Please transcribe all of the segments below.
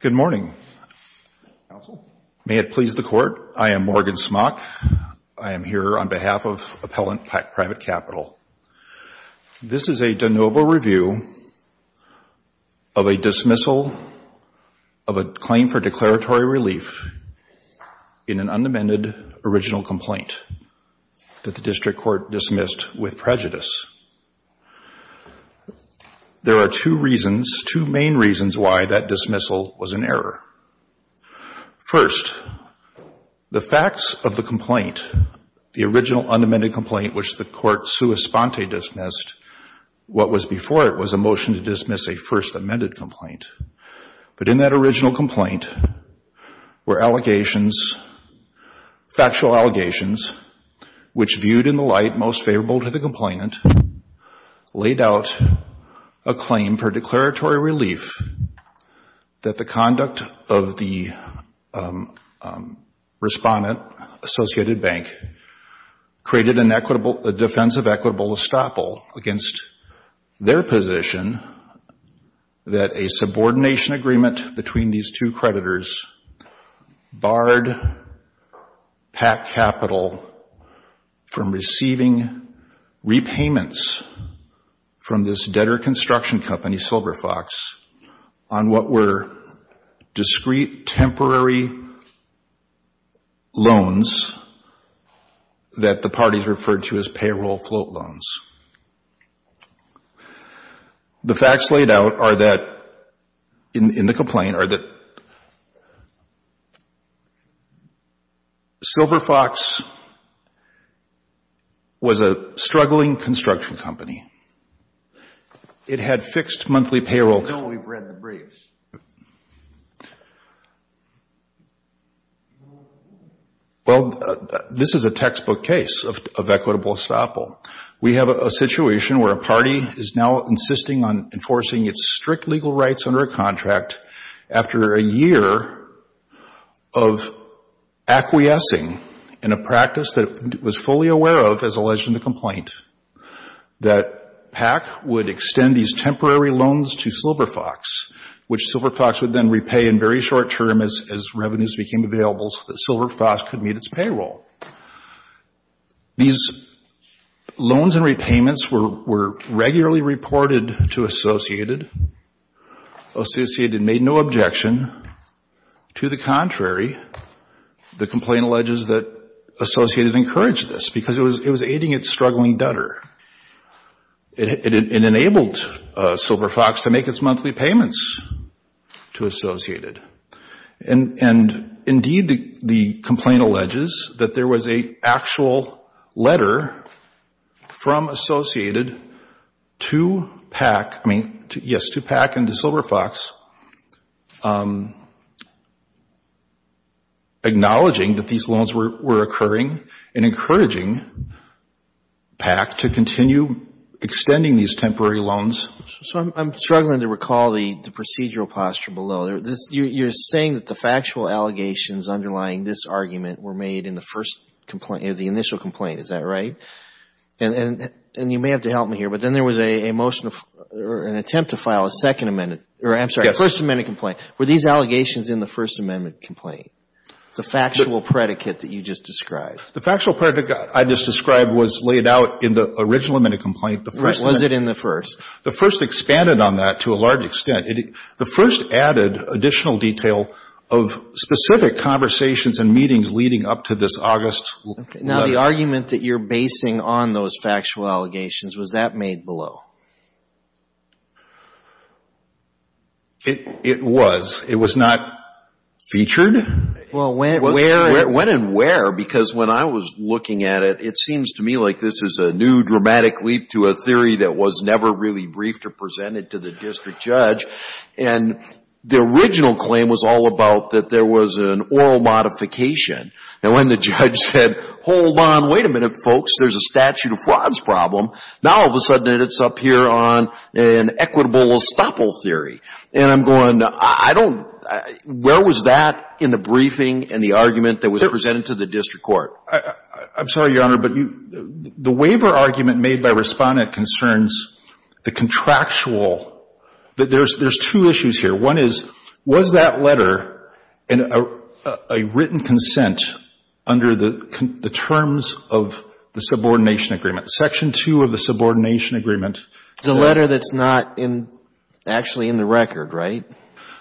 Good morning. May it please the Court, I am Morgan Smock. I am here on behalf of Appellant PACK Private Capital. This is a de novo review of a dismissal of a claim for declaratory relief in an unamended original complaint that the District Court dismissed with prejudice. There are two reasons, two main reasons why that dismissal was an error. First, the facts of the complaint, the original unamended complaint which the Court sua sponte dismissed, what was before it was a motion to dismiss a first amended complaint. But in that original complaint were allegations, factual allegations, which viewed in the light most favorable to the complainant, laid out a claim for declaratory relief that the conduct of the respondent, Associated Bank, created a defensive equitable estoppel against their position that a subordination agreement between these two creditors barred PACK Capital from receiving the necessary repayments from this debtor construction company, Silver Fox, on what were discreet temporary loans that the parties referred to as payroll float loans. The facts laid out are that in the complaint are that Silver Fox was a struggling company. It was a struggling company that was a struggling construction company. It had fixed monthly payroll. We know we've read the briefs. Well, this is a textbook case of equitable estoppel. We have a situation where a party is now insisting on enforcing its strict legal rights under a contract after a year of acquiescing in a practice that it was fully aware of as alleged in the complaint, that PACK would extend these temporary loans to Silver Fox, which Silver Fox would then repay in very short term as revenues became available so that Silver Fox could meet its payroll. These loans and repayments were regularly reported to Associated. Associated made no objection. To the contrary, the complaint alleges that Associated encouraged this because it was aiding its struggling debtor. It enabled Silver Fox to make its monthly payments to Associated. Indeed, the complaint alleges that there was an actual letter from Associated to PACK, I mean, yes, to PACK and to Silver Fox acknowledging that these loans were occurring and encouraging PACK to continue extending these temporary loans. So I'm struggling to recall the procedural posture below. You're saying that the factual allegations underlying this argument were made in the first complaint, the initial complaint. Is that right? And you may have to help me here, but then there was a motion or an attempt to file a second amendment, or I'm sorry, a first amendment complaint. Were these allegations in the first amendment complaint, the factual predicate that you just described? The factual predicate I just described was laid out in the original amendment complaint. Was it in the first? The first expanded on that to a large extent. The first added additional detail of specific conversations and meetings leading up to this August letter. Now, the argument that you're basing on those factual allegations, was that made below? It was. It was not featured. Well, when and where? When and where, because when I was looking at it, it seems to me like this is a new dramatic leap to a theory that was never really briefed or presented to the district judge. And the original claim was all about that there was an oral modification. And when the judge said, hold on, wait a minute, folks, there's a statute of frauds problem. Now, all of a sudden, it's up here on an equitable estoppel theory. And I'm going, I don't, where was that in the briefing and the argument that was presented to the district court? I'm sorry, Your Honor, but the waiver argument made by Respondent concerns the contractual rule. There's two issues here. One is, was that letter a written consent under the terms of the subordination agreement? Section 2 of the subordination agreement. The letter that's not in, actually in the record, right?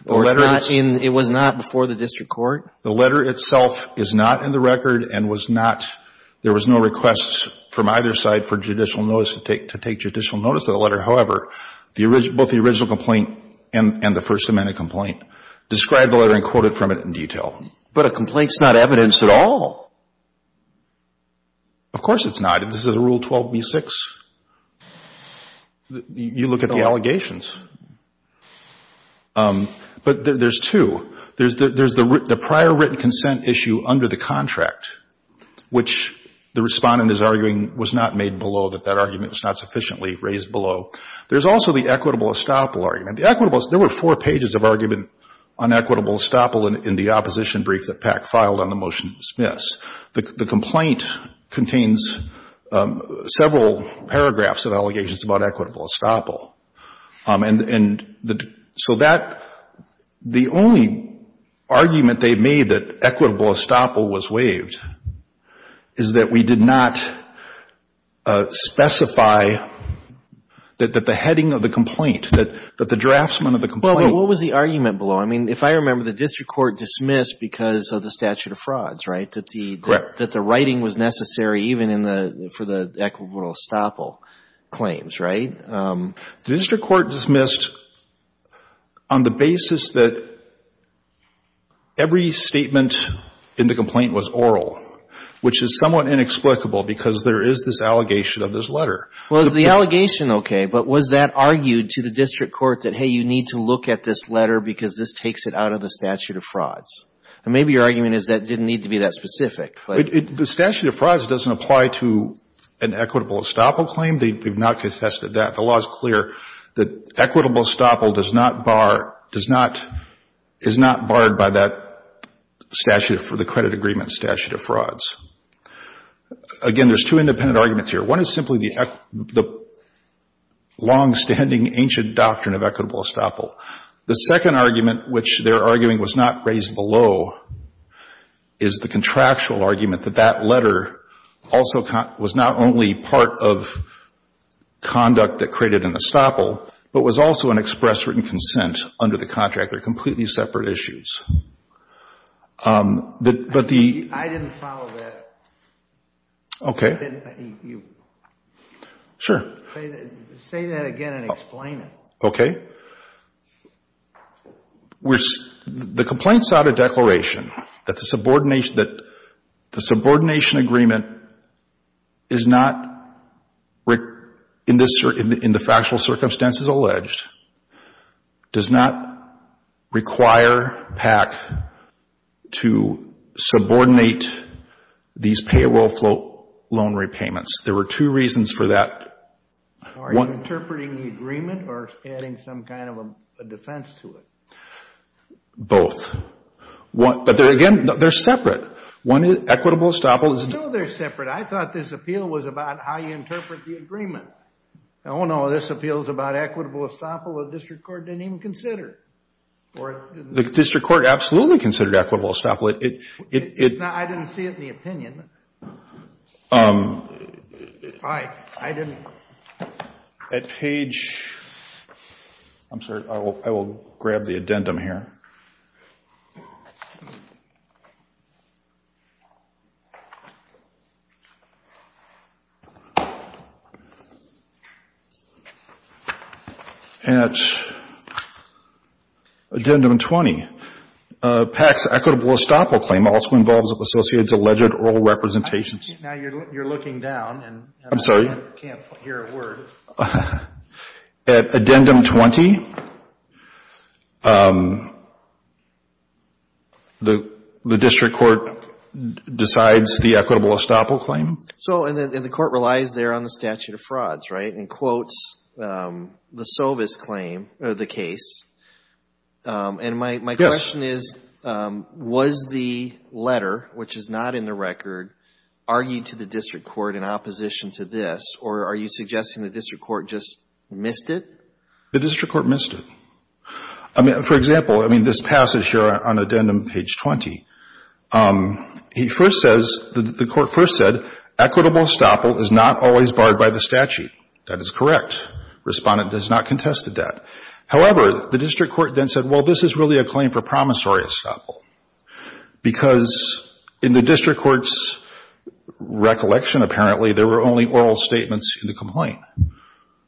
The letter that's in the record. It was not before the district court? The letter itself is not in the record and was not, there was no requests from either side for judicial notice, to take judicial notice of the letter. However, both the original complaint and the First Amendment complaint describe the letter and quote it from it in But a complaint's not evidence at all. Of course it's not. This is a Rule 12b-6. You look at the allegations. But there's two. There's the prior written consent issue under the contract, which the Respondent is arguing was not made below, that that argument was not sufficiently raised below. There's also the equitable estoppel argument. The equitable, there were four pages of argument on equitable estoppel in the opposition brief that PAC filed on the motion to dismiss. The complaint contains several paragraphs of allegations about equitable estoppel. And so that, the only argument they made that equitable estoppel was waived is that we did not specify that the heading of the complaint, that the draftsman of the complaint Well, but what was the argument below? I mean, if I remember, the district court dismissed because of the statute of frauds, right? Correct. That the writing was necessary even in the, for the equitable estoppel claims, right? The district court dismissed on the basis that every statement in the complaint was equitable because there is this allegation of this letter. Well, is the allegation okay? But was that argued to the district court that, hey, you need to look at this letter because this takes it out of the statute of frauds? And maybe your argument is that it didn't need to be that specific. The statute of frauds doesn't apply to an equitable estoppel claim. They've not contested that. The law is clear that equitable estoppel does not bar, does not, is not barred by that statute for the credit agreement statute of frauds. Again, there's two independent arguments here. One is simply the longstanding ancient doctrine of equitable estoppel. The second argument, which they're arguing was not raised below, is the contractual argument that that letter also was not only part of conduct that created an estoppel, but was also an express written consent under the contract. They're completely separate issues. I didn't follow that. Okay. Say that again and explain it. Okay. The complaint sought a declaration that the subordination agreement is not, in the PAC, to subordinate these payable loan repayments. There were two reasons for that. Are you interpreting the agreement or adding some kind of a defense to it? Both. But again, they're separate. One is equitable estoppel is... No, they're separate. I thought this appeal was about how you interpret the agreement. Oh, no. This appeal is about equitable estoppel the district court didn't even consider. The district court absolutely considered equitable estoppel. I didn't see it in the opinion. All right. I didn't... At page... I'm sorry. I will grab the addendum here. At addendum 20, PAC's equitable estoppel claim also involves associated alleged oral representations. Now you're looking down and... I'm sorry.... can't hear a word. At addendum 20, the district court decides the equitable estoppel claim. And the court relies there on the statute of frauds, right, and quotes the Sovis claim, or the case. And my question is, was the letter, which is not in the record, argued to the district court in opposition to this? Or are you suggesting the district court just missed it? The district court missed it. For example, this passage here on addendum page 20, he first says... The court first said, equitable estoppel is not always barred by the statute. That is correct. Respondent has not contested that. However, the district court then said, well, this is really a claim for promissory estoppel. Because in the district court's recollection, apparently, there were only oral statements in the complaint.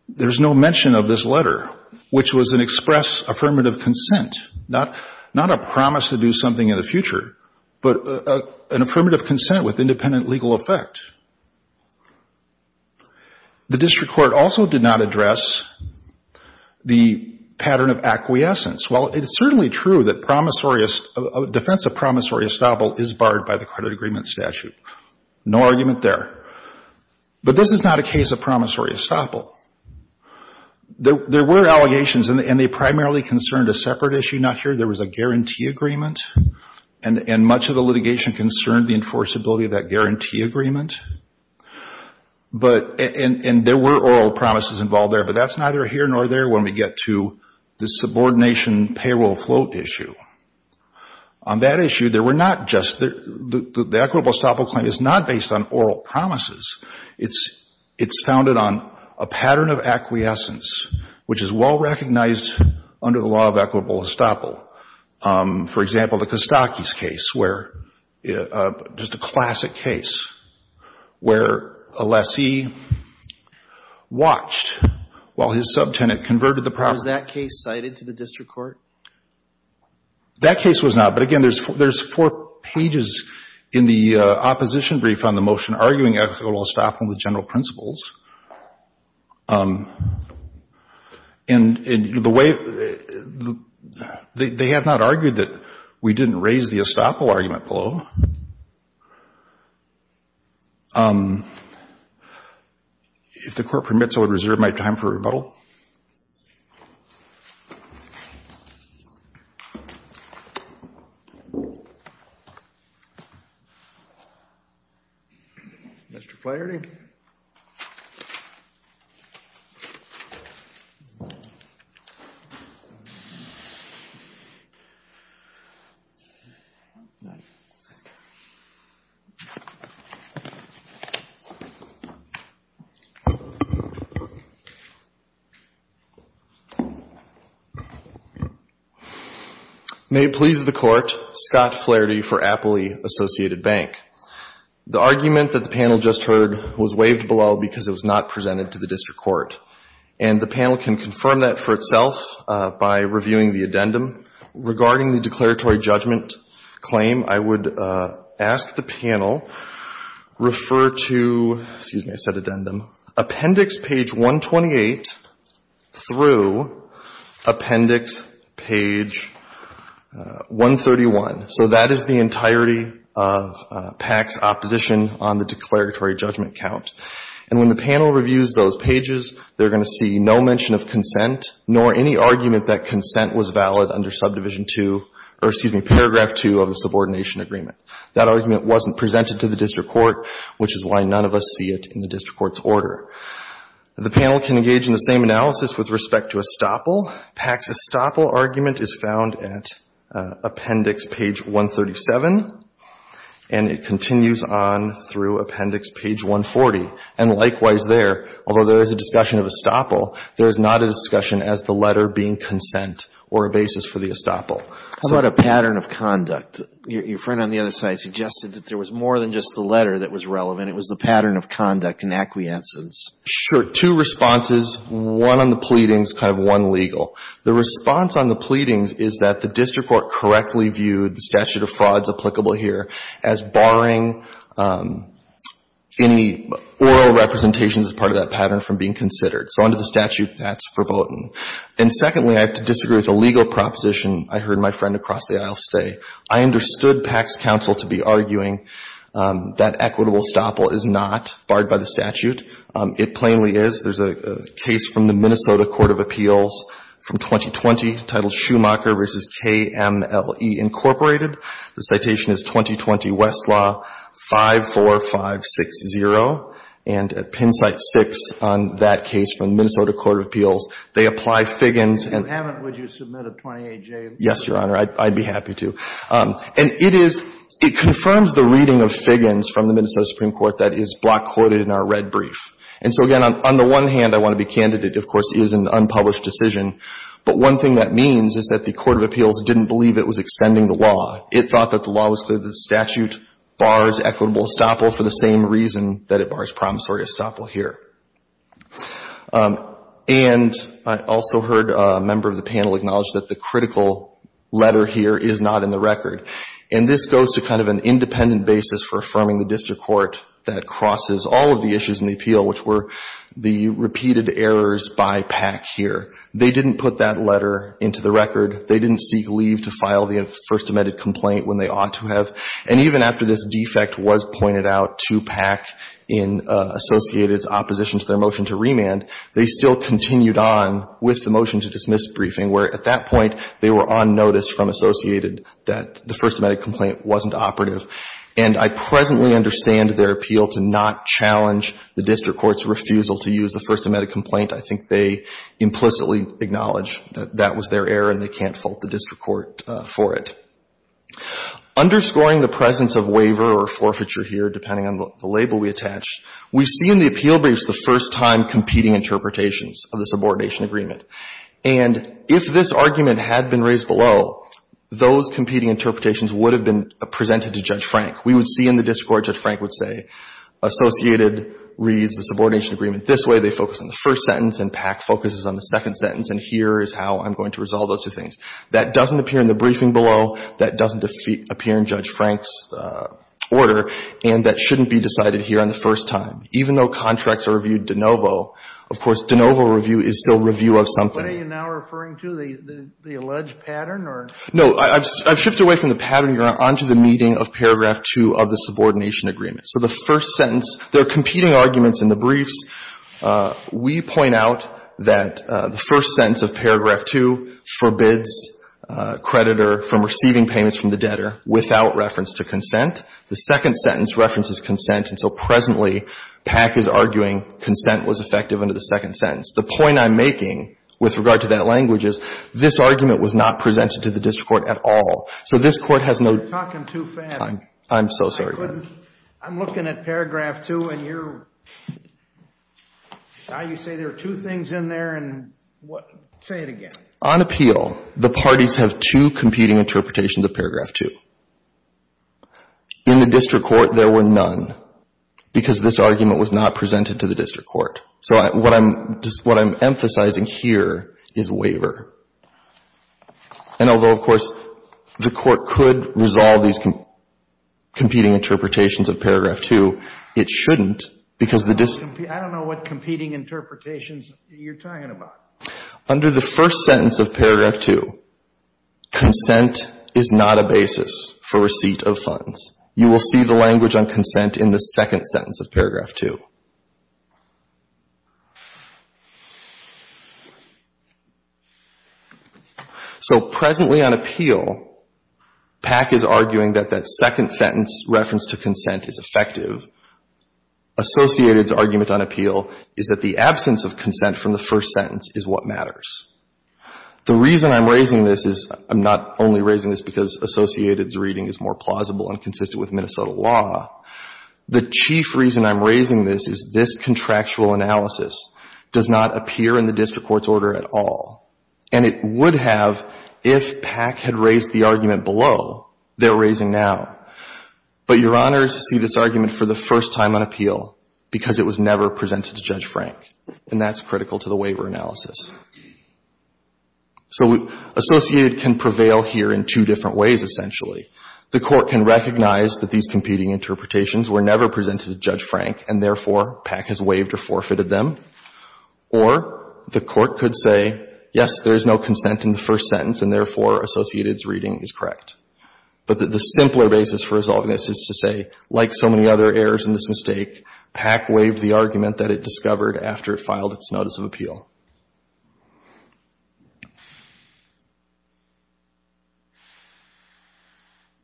There's no mention of this letter, which was an express affirmative consent. Not a promise to do something in the future, but an affirmative consent with independent legal effect. The district court also did not address the pattern of acquiescence. Well, it is certainly true that promissory... defense of promissory estoppel is barred by the credit agreement statute. No argument there. But this is not a case of promissory estoppel. There were allegations, and they primarily concerned a separate issue not here. There was a guarantee agreement. And much of the litigation concerned the enforceability of that guarantee agreement. And there were oral promises involved there. But that's neither here nor there when we get to the subordination payroll float issue. On that issue, there were not just... the equitable estoppel claim is not based on oral promises. It's founded on a pattern of acquiescence, which is well recognized under the law of equitable estoppel. For example, the Kostakis case, where... just a classic case, where a lessee watched while his subtenant converted the property. Was that case cited to the district court? That case was not, but again, there's four pages in the opposition brief on the motion arguing equitable estoppel with general principles. And the way... they have not argued that we didn't raise the estoppel argument below. If the Court permits, I would reserve my time for rebuttal. Mr. Flaherty? May it please the Court, Scott Flaherty for Appley Associated Bank. The argument that the panel just heard was waived below because it was not presented to the district court. And the panel can confirm that for itself by reviewing the addendum. Regarding the declaratory judgment claim, I would ask the panel refer to... excuse me, I said addendum... appendix page 131. So that is the entirety of PAC's opposition on the declaratory judgment count. And when the panel reviews those pages, they're going to see no mention of consent nor any argument that consent was valid under subdivision 2, or excuse me, paragraph 2 of the subordination agreement. That argument wasn't presented to the district court, which is why none of us see it in the district court's order. The panel can engage in the same analysis with respect to estoppel. PAC's estoppel argument is found at appendix page 137. And it continues on through appendix page 140. And likewise there, although there is a discussion of estoppel, there is not a discussion as the letter being consent or a basis for the estoppel. So... How about a pattern of conduct? Your friend on the other side suggested that there was more than just the letter that was relevant. It was the pattern of conduct and acquiescence. Sure. Two responses. One on the pleadings, kind of one legal. The response on the pleadings is that the district court correctly viewed the statute of frauds applicable here as barring any oral representations as part of that pattern from being considered. So under the statute, that's verboten. And secondly, I have to disagree with a legal proposition I heard my friend across the aisle say. I understood PAC's counsel to be arguing that equitable estoppel is not barred by the statute. It plainly is. There's a case from the Minnesota Court of Appeals from 2020 titled Schumacher v. KMLE, Inc. The citation is 2020 Westlaw 54560. And at pin site 6 on that case from the Minnesota Court of Appeals, they apply Figgins and... If you haven't, would you submit a 28-J? Yes, Your Honor. I'd be happy to. And it is, it confirms the reading of Figgins from the Minnesota Supreme Court that is block quoted in our red brief. And so, again, on the one hand, I want to be candidate. Of course, it is an unpublished decision. But one thing that means is that the Court of Appeals didn't believe it was extending the law. It thought that the law was through the statute, bars equitable estoppel for the same reason that it bars promissory estoppel here. And I also heard a member of the panel acknowledge that the critical letter here is not in the And this goes to kind of an independent basis for affirming the district court that crosses all of the issues in the appeal, which were the repeated errors by PAC here. They didn't put that letter into the record. They didn't seek leave to file the first amended complaint when they ought to have. And even after this defect was pointed out to PAC in Associated's opposition to their motion to remand, they still continued on with the motion to dismiss briefing, where at that point, they were on notice from Associated that the first amended complaint wasn't operative. And I presently understand their appeal to not challenge the district court's refusal to use the first amended complaint. I think they implicitly acknowledge that that was their error and they can't fault the district court for it. Underscoring the presence of waiver or forfeiture here, depending on the label we attached, we see in the appeal briefs the first-time competing interpretations of the subordination agreement. And if this argument had been raised below, those competing interpretations would have been presented to Judge Frank. We would see in the district court, Judge Frank would say, Associated reads the subordination agreement this way, they focus on the first sentence, and PAC focuses on the second sentence, and here is how I'm going to resolve those two things. That doesn't appear in the briefing below. That doesn't appear in Judge Frank's order. And that shouldn't be decided here on the first time. Even though contracts are reviewed de novo, of course, de novo review is still review of something. Are you now referring to the alleged pattern or? I've shifted away from the pattern. You're on to the meeting of paragraph 2 of the subordination agreement. So the first sentence, there are competing arguments in the briefs. We point out that the first sentence of paragraph 2 forbids a creditor from receiving payments from the debtor without reference to consent. The second sentence references consent, and so presently PAC is arguing consent was effective under the second sentence. The point I'm making with regard to that language is this argument was not presented to the district court at all. So this Court has no. You're talking too fast. I'm so sorry. I couldn't. I'm looking at paragraph 2, and you're. Now you say there are two things in there, and say it again. On appeal, the parties have two competing interpretations of paragraph 2. In the district court, there were none, because this argument was not presented to the district court. So what I'm emphasizing here is waiver. And although, of course, the Court could resolve these competing interpretations of paragraph 2, it shouldn't, because the. I don't know what competing interpretations you're talking about. Under the first sentence of paragraph 2, consent is not a basis for receipt of funds. You will see the language on consent in the second sentence of paragraph 2. So presently on appeal, PAC is arguing that that second sentence reference to consent is effective. Associated's argument on appeal is that the absence of consent from the first sentence is what matters. The reason I'm raising this is I'm not only raising this because Associated's reading is more plausible and consistent with Minnesota law. The chief reason I'm raising this is this contractual analysis does not appear in the district court's order at all. And it would have if PAC had raised the argument below they're raising now. But Your Honors see this argument for the first time on appeal because it was never presented to Judge Frank. And that's critical to the waiver analysis. So Associated can prevail here in two different ways, essentially. The court can recognize that these competing interpretations were never presented to Judge Frank and, therefore, PAC has waived or forfeited them. Or the court could say, yes, there is no consent in the first sentence and, therefore, Associated's reading is correct. But the simpler basis for resolving this is to say, like so many other errors in this mistake, PAC waived the argument that it discovered after it filed its notice of appeal.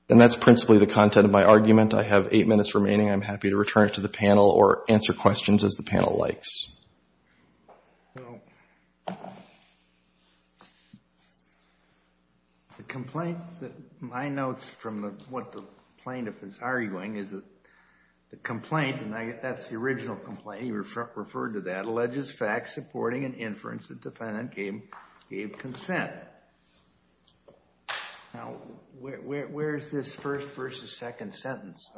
And that's principally the content of my argument. I have eight minutes remaining. I'm happy to return it to the panel or answer questions as the panel likes. The complaint that my notes from what the plaintiff is arguing is that the complaint, and that's the original complaint, he referred to that, alleges facts supporting an inference that the defendant gave consent. Now, where is this first versus second sentence?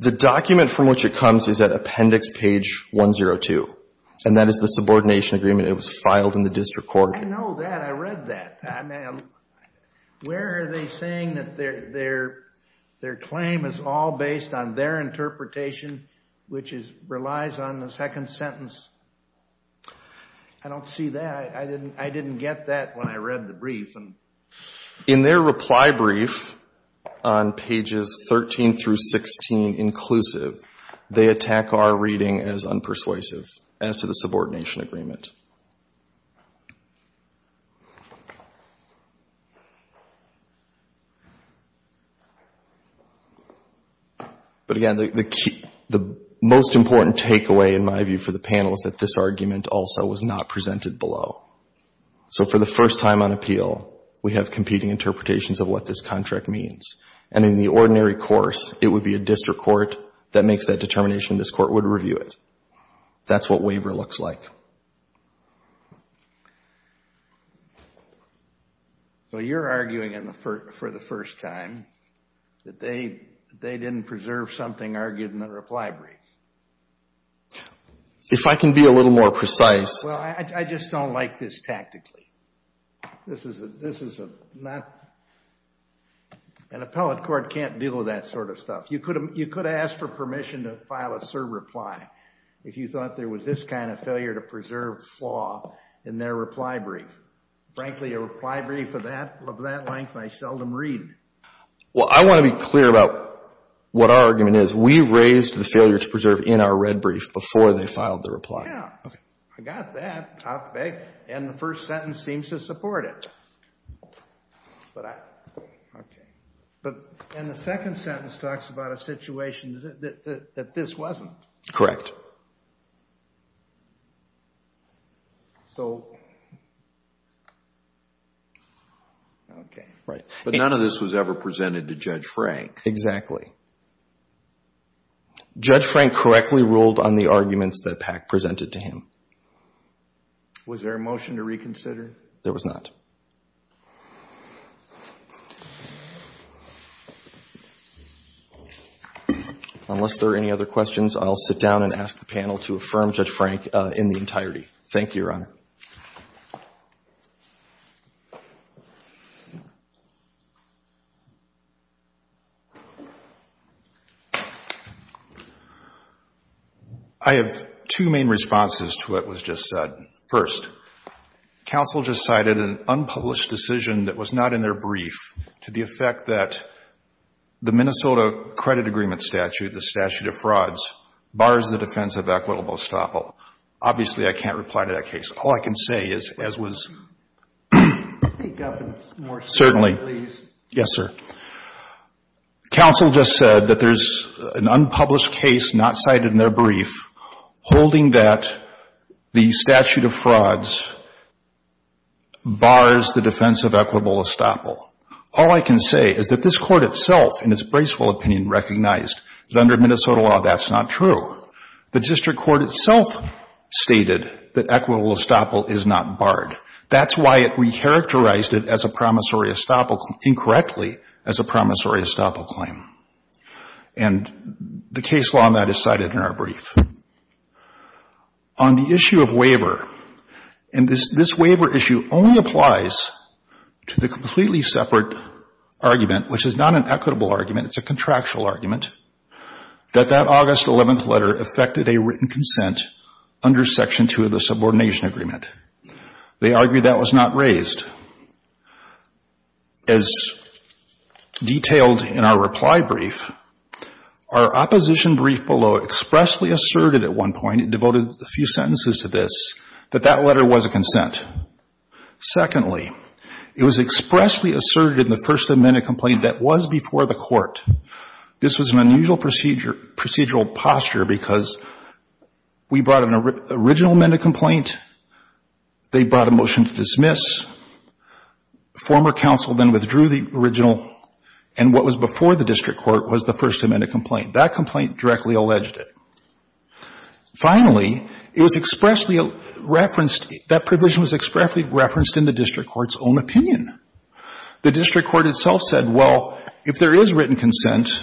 The document from which it comes is at appendix page 102. And that is the subordination agreement. It was filed in the district court. I know that. I read that. Where are they saying that their claim is all based on their interpretation, which relies on the second sentence? I don't see that. I didn't get that when I read the brief. In their reply brief on pages 13 through 16 inclusive, they attack our reading as unpersuasive as to the subordination agreement. But, again, the most important takeaway, in my view, for the panel is that this argument also was not presented below. So for the first time on appeal, we have competing interpretations of what this contract means. And in the ordinary course, it would be a district court that makes that determination. This court would review it. That's what waiver looks like. Well, you're arguing, for the first time, that they didn't preserve something argued in the reply brief. If I can be a little more precise. Well, I just don't like this tactically. This is a not an appellate court can't deal with that sort of stuff. You could ask for permission to file a serve reply if you thought there was this kind of failure to preserve flaw in their reply brief. Frankly, a reply brief of that length, I seldom read. Well, I want to be clear about what our argument is. We raised the failure to preserve in our red brief before they filed the reply. Yeah, I got that. And the first sentence seems to support it. Okay. And the second sentence talks about a situation that this wasn't. Correct. Okay. But none of this was ever presented to Judge Frank. Exactly. Judge Frank correctly ruled on the arguments that PAC presented to him. Was there a motion to reconsider? There was not. Unless there are any other questions, I'll sit down and ask the panel to affirm Judge Frank in the entirety. Thank you, Your Honor. I have two main responses to what was just said. First, counsel just cited an unpublished decision that was not in their brief to the effect that the Minnesota credit agreement statute, the statute of frauds, bars the defense of equitable estoppel. Obviously, I can't reply to that case. All I can say is, as was – Certainly. Yes, sir. Counsel just said that there's an unpublished case not cited in their brief holding that the statute of frauds bars the defense of equitable estoppel. All I can say is that this Court itself, in its Bracewell opinion, recognized that under Minnesota law that's not true. The district court itself stated that equitable estoppel is not barred. That's why it recharacterized it as a promissory estoppel – incorrectly as a promissory estoppel claim. And the case law on that is cited in our brief. On the issue of waiver, and this waiver issue only applies to the completely separate argument, which is not an equitable argument, it's a contractual argument, that that August 11th letter affected a written consent under Section 2 of the subordination agreement. They argue that was not raised. As detailed in our reply brief, our opposition brief below expressly asserted at one point, it devoted a few sentences to this, that that letter was a consent. Secondly, it was expressly asserted in the first amended complaint that was before the court. This was an unusual procedural posture because we brought an original amended complaint, they brought a motion to dismiss, former counsel then withdrew the original, and what was before the district court was the first amended complaint. That complaint directly alleged it. Finally, it was expressly referenced, that provision was expressly referenced in the district court's own opinion. The district court itself said, well, if there is written consent,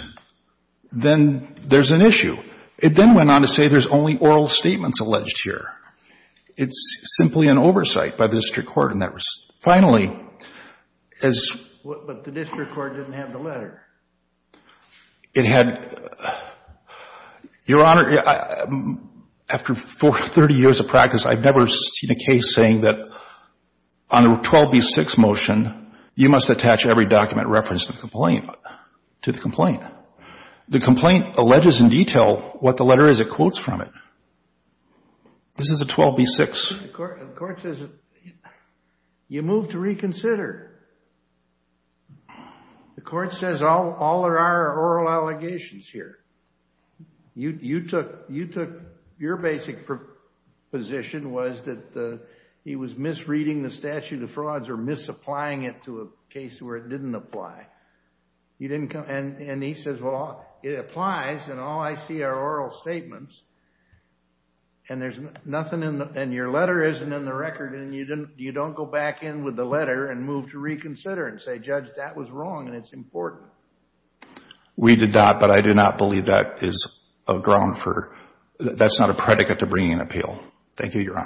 then there's an issue. It then went on to say there's only oral statements alleged here. It's simply an oversight by the district court. And that was finally, as... But the district court didn't have the letter. It had... Your Honor, after 30 years of practice, I've never seen a case saying that on a 12b-6 motion, you must attach every document referenced in the complaint to the complaint. The complaint alleges in detail what the letter is. It quotes from it. This is a 12b-6. The court says... You move to reconsider. The court says all there are are oral allegations here. You took... Your basic position was that he was misreading the statute of frauds or misapplying it to a case where it didn't apply. And he says, well, it applies, and all I see are oral statements. And there's nothing in the... And your letter isn't in the record, and you don't go back in with the letter and move to reconsider and say, Judge, that was wrong, and it's important. We did not, but I do not believe that is a ground for... That's not a predicate to bringing an appeal. Thank you, Your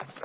Honor.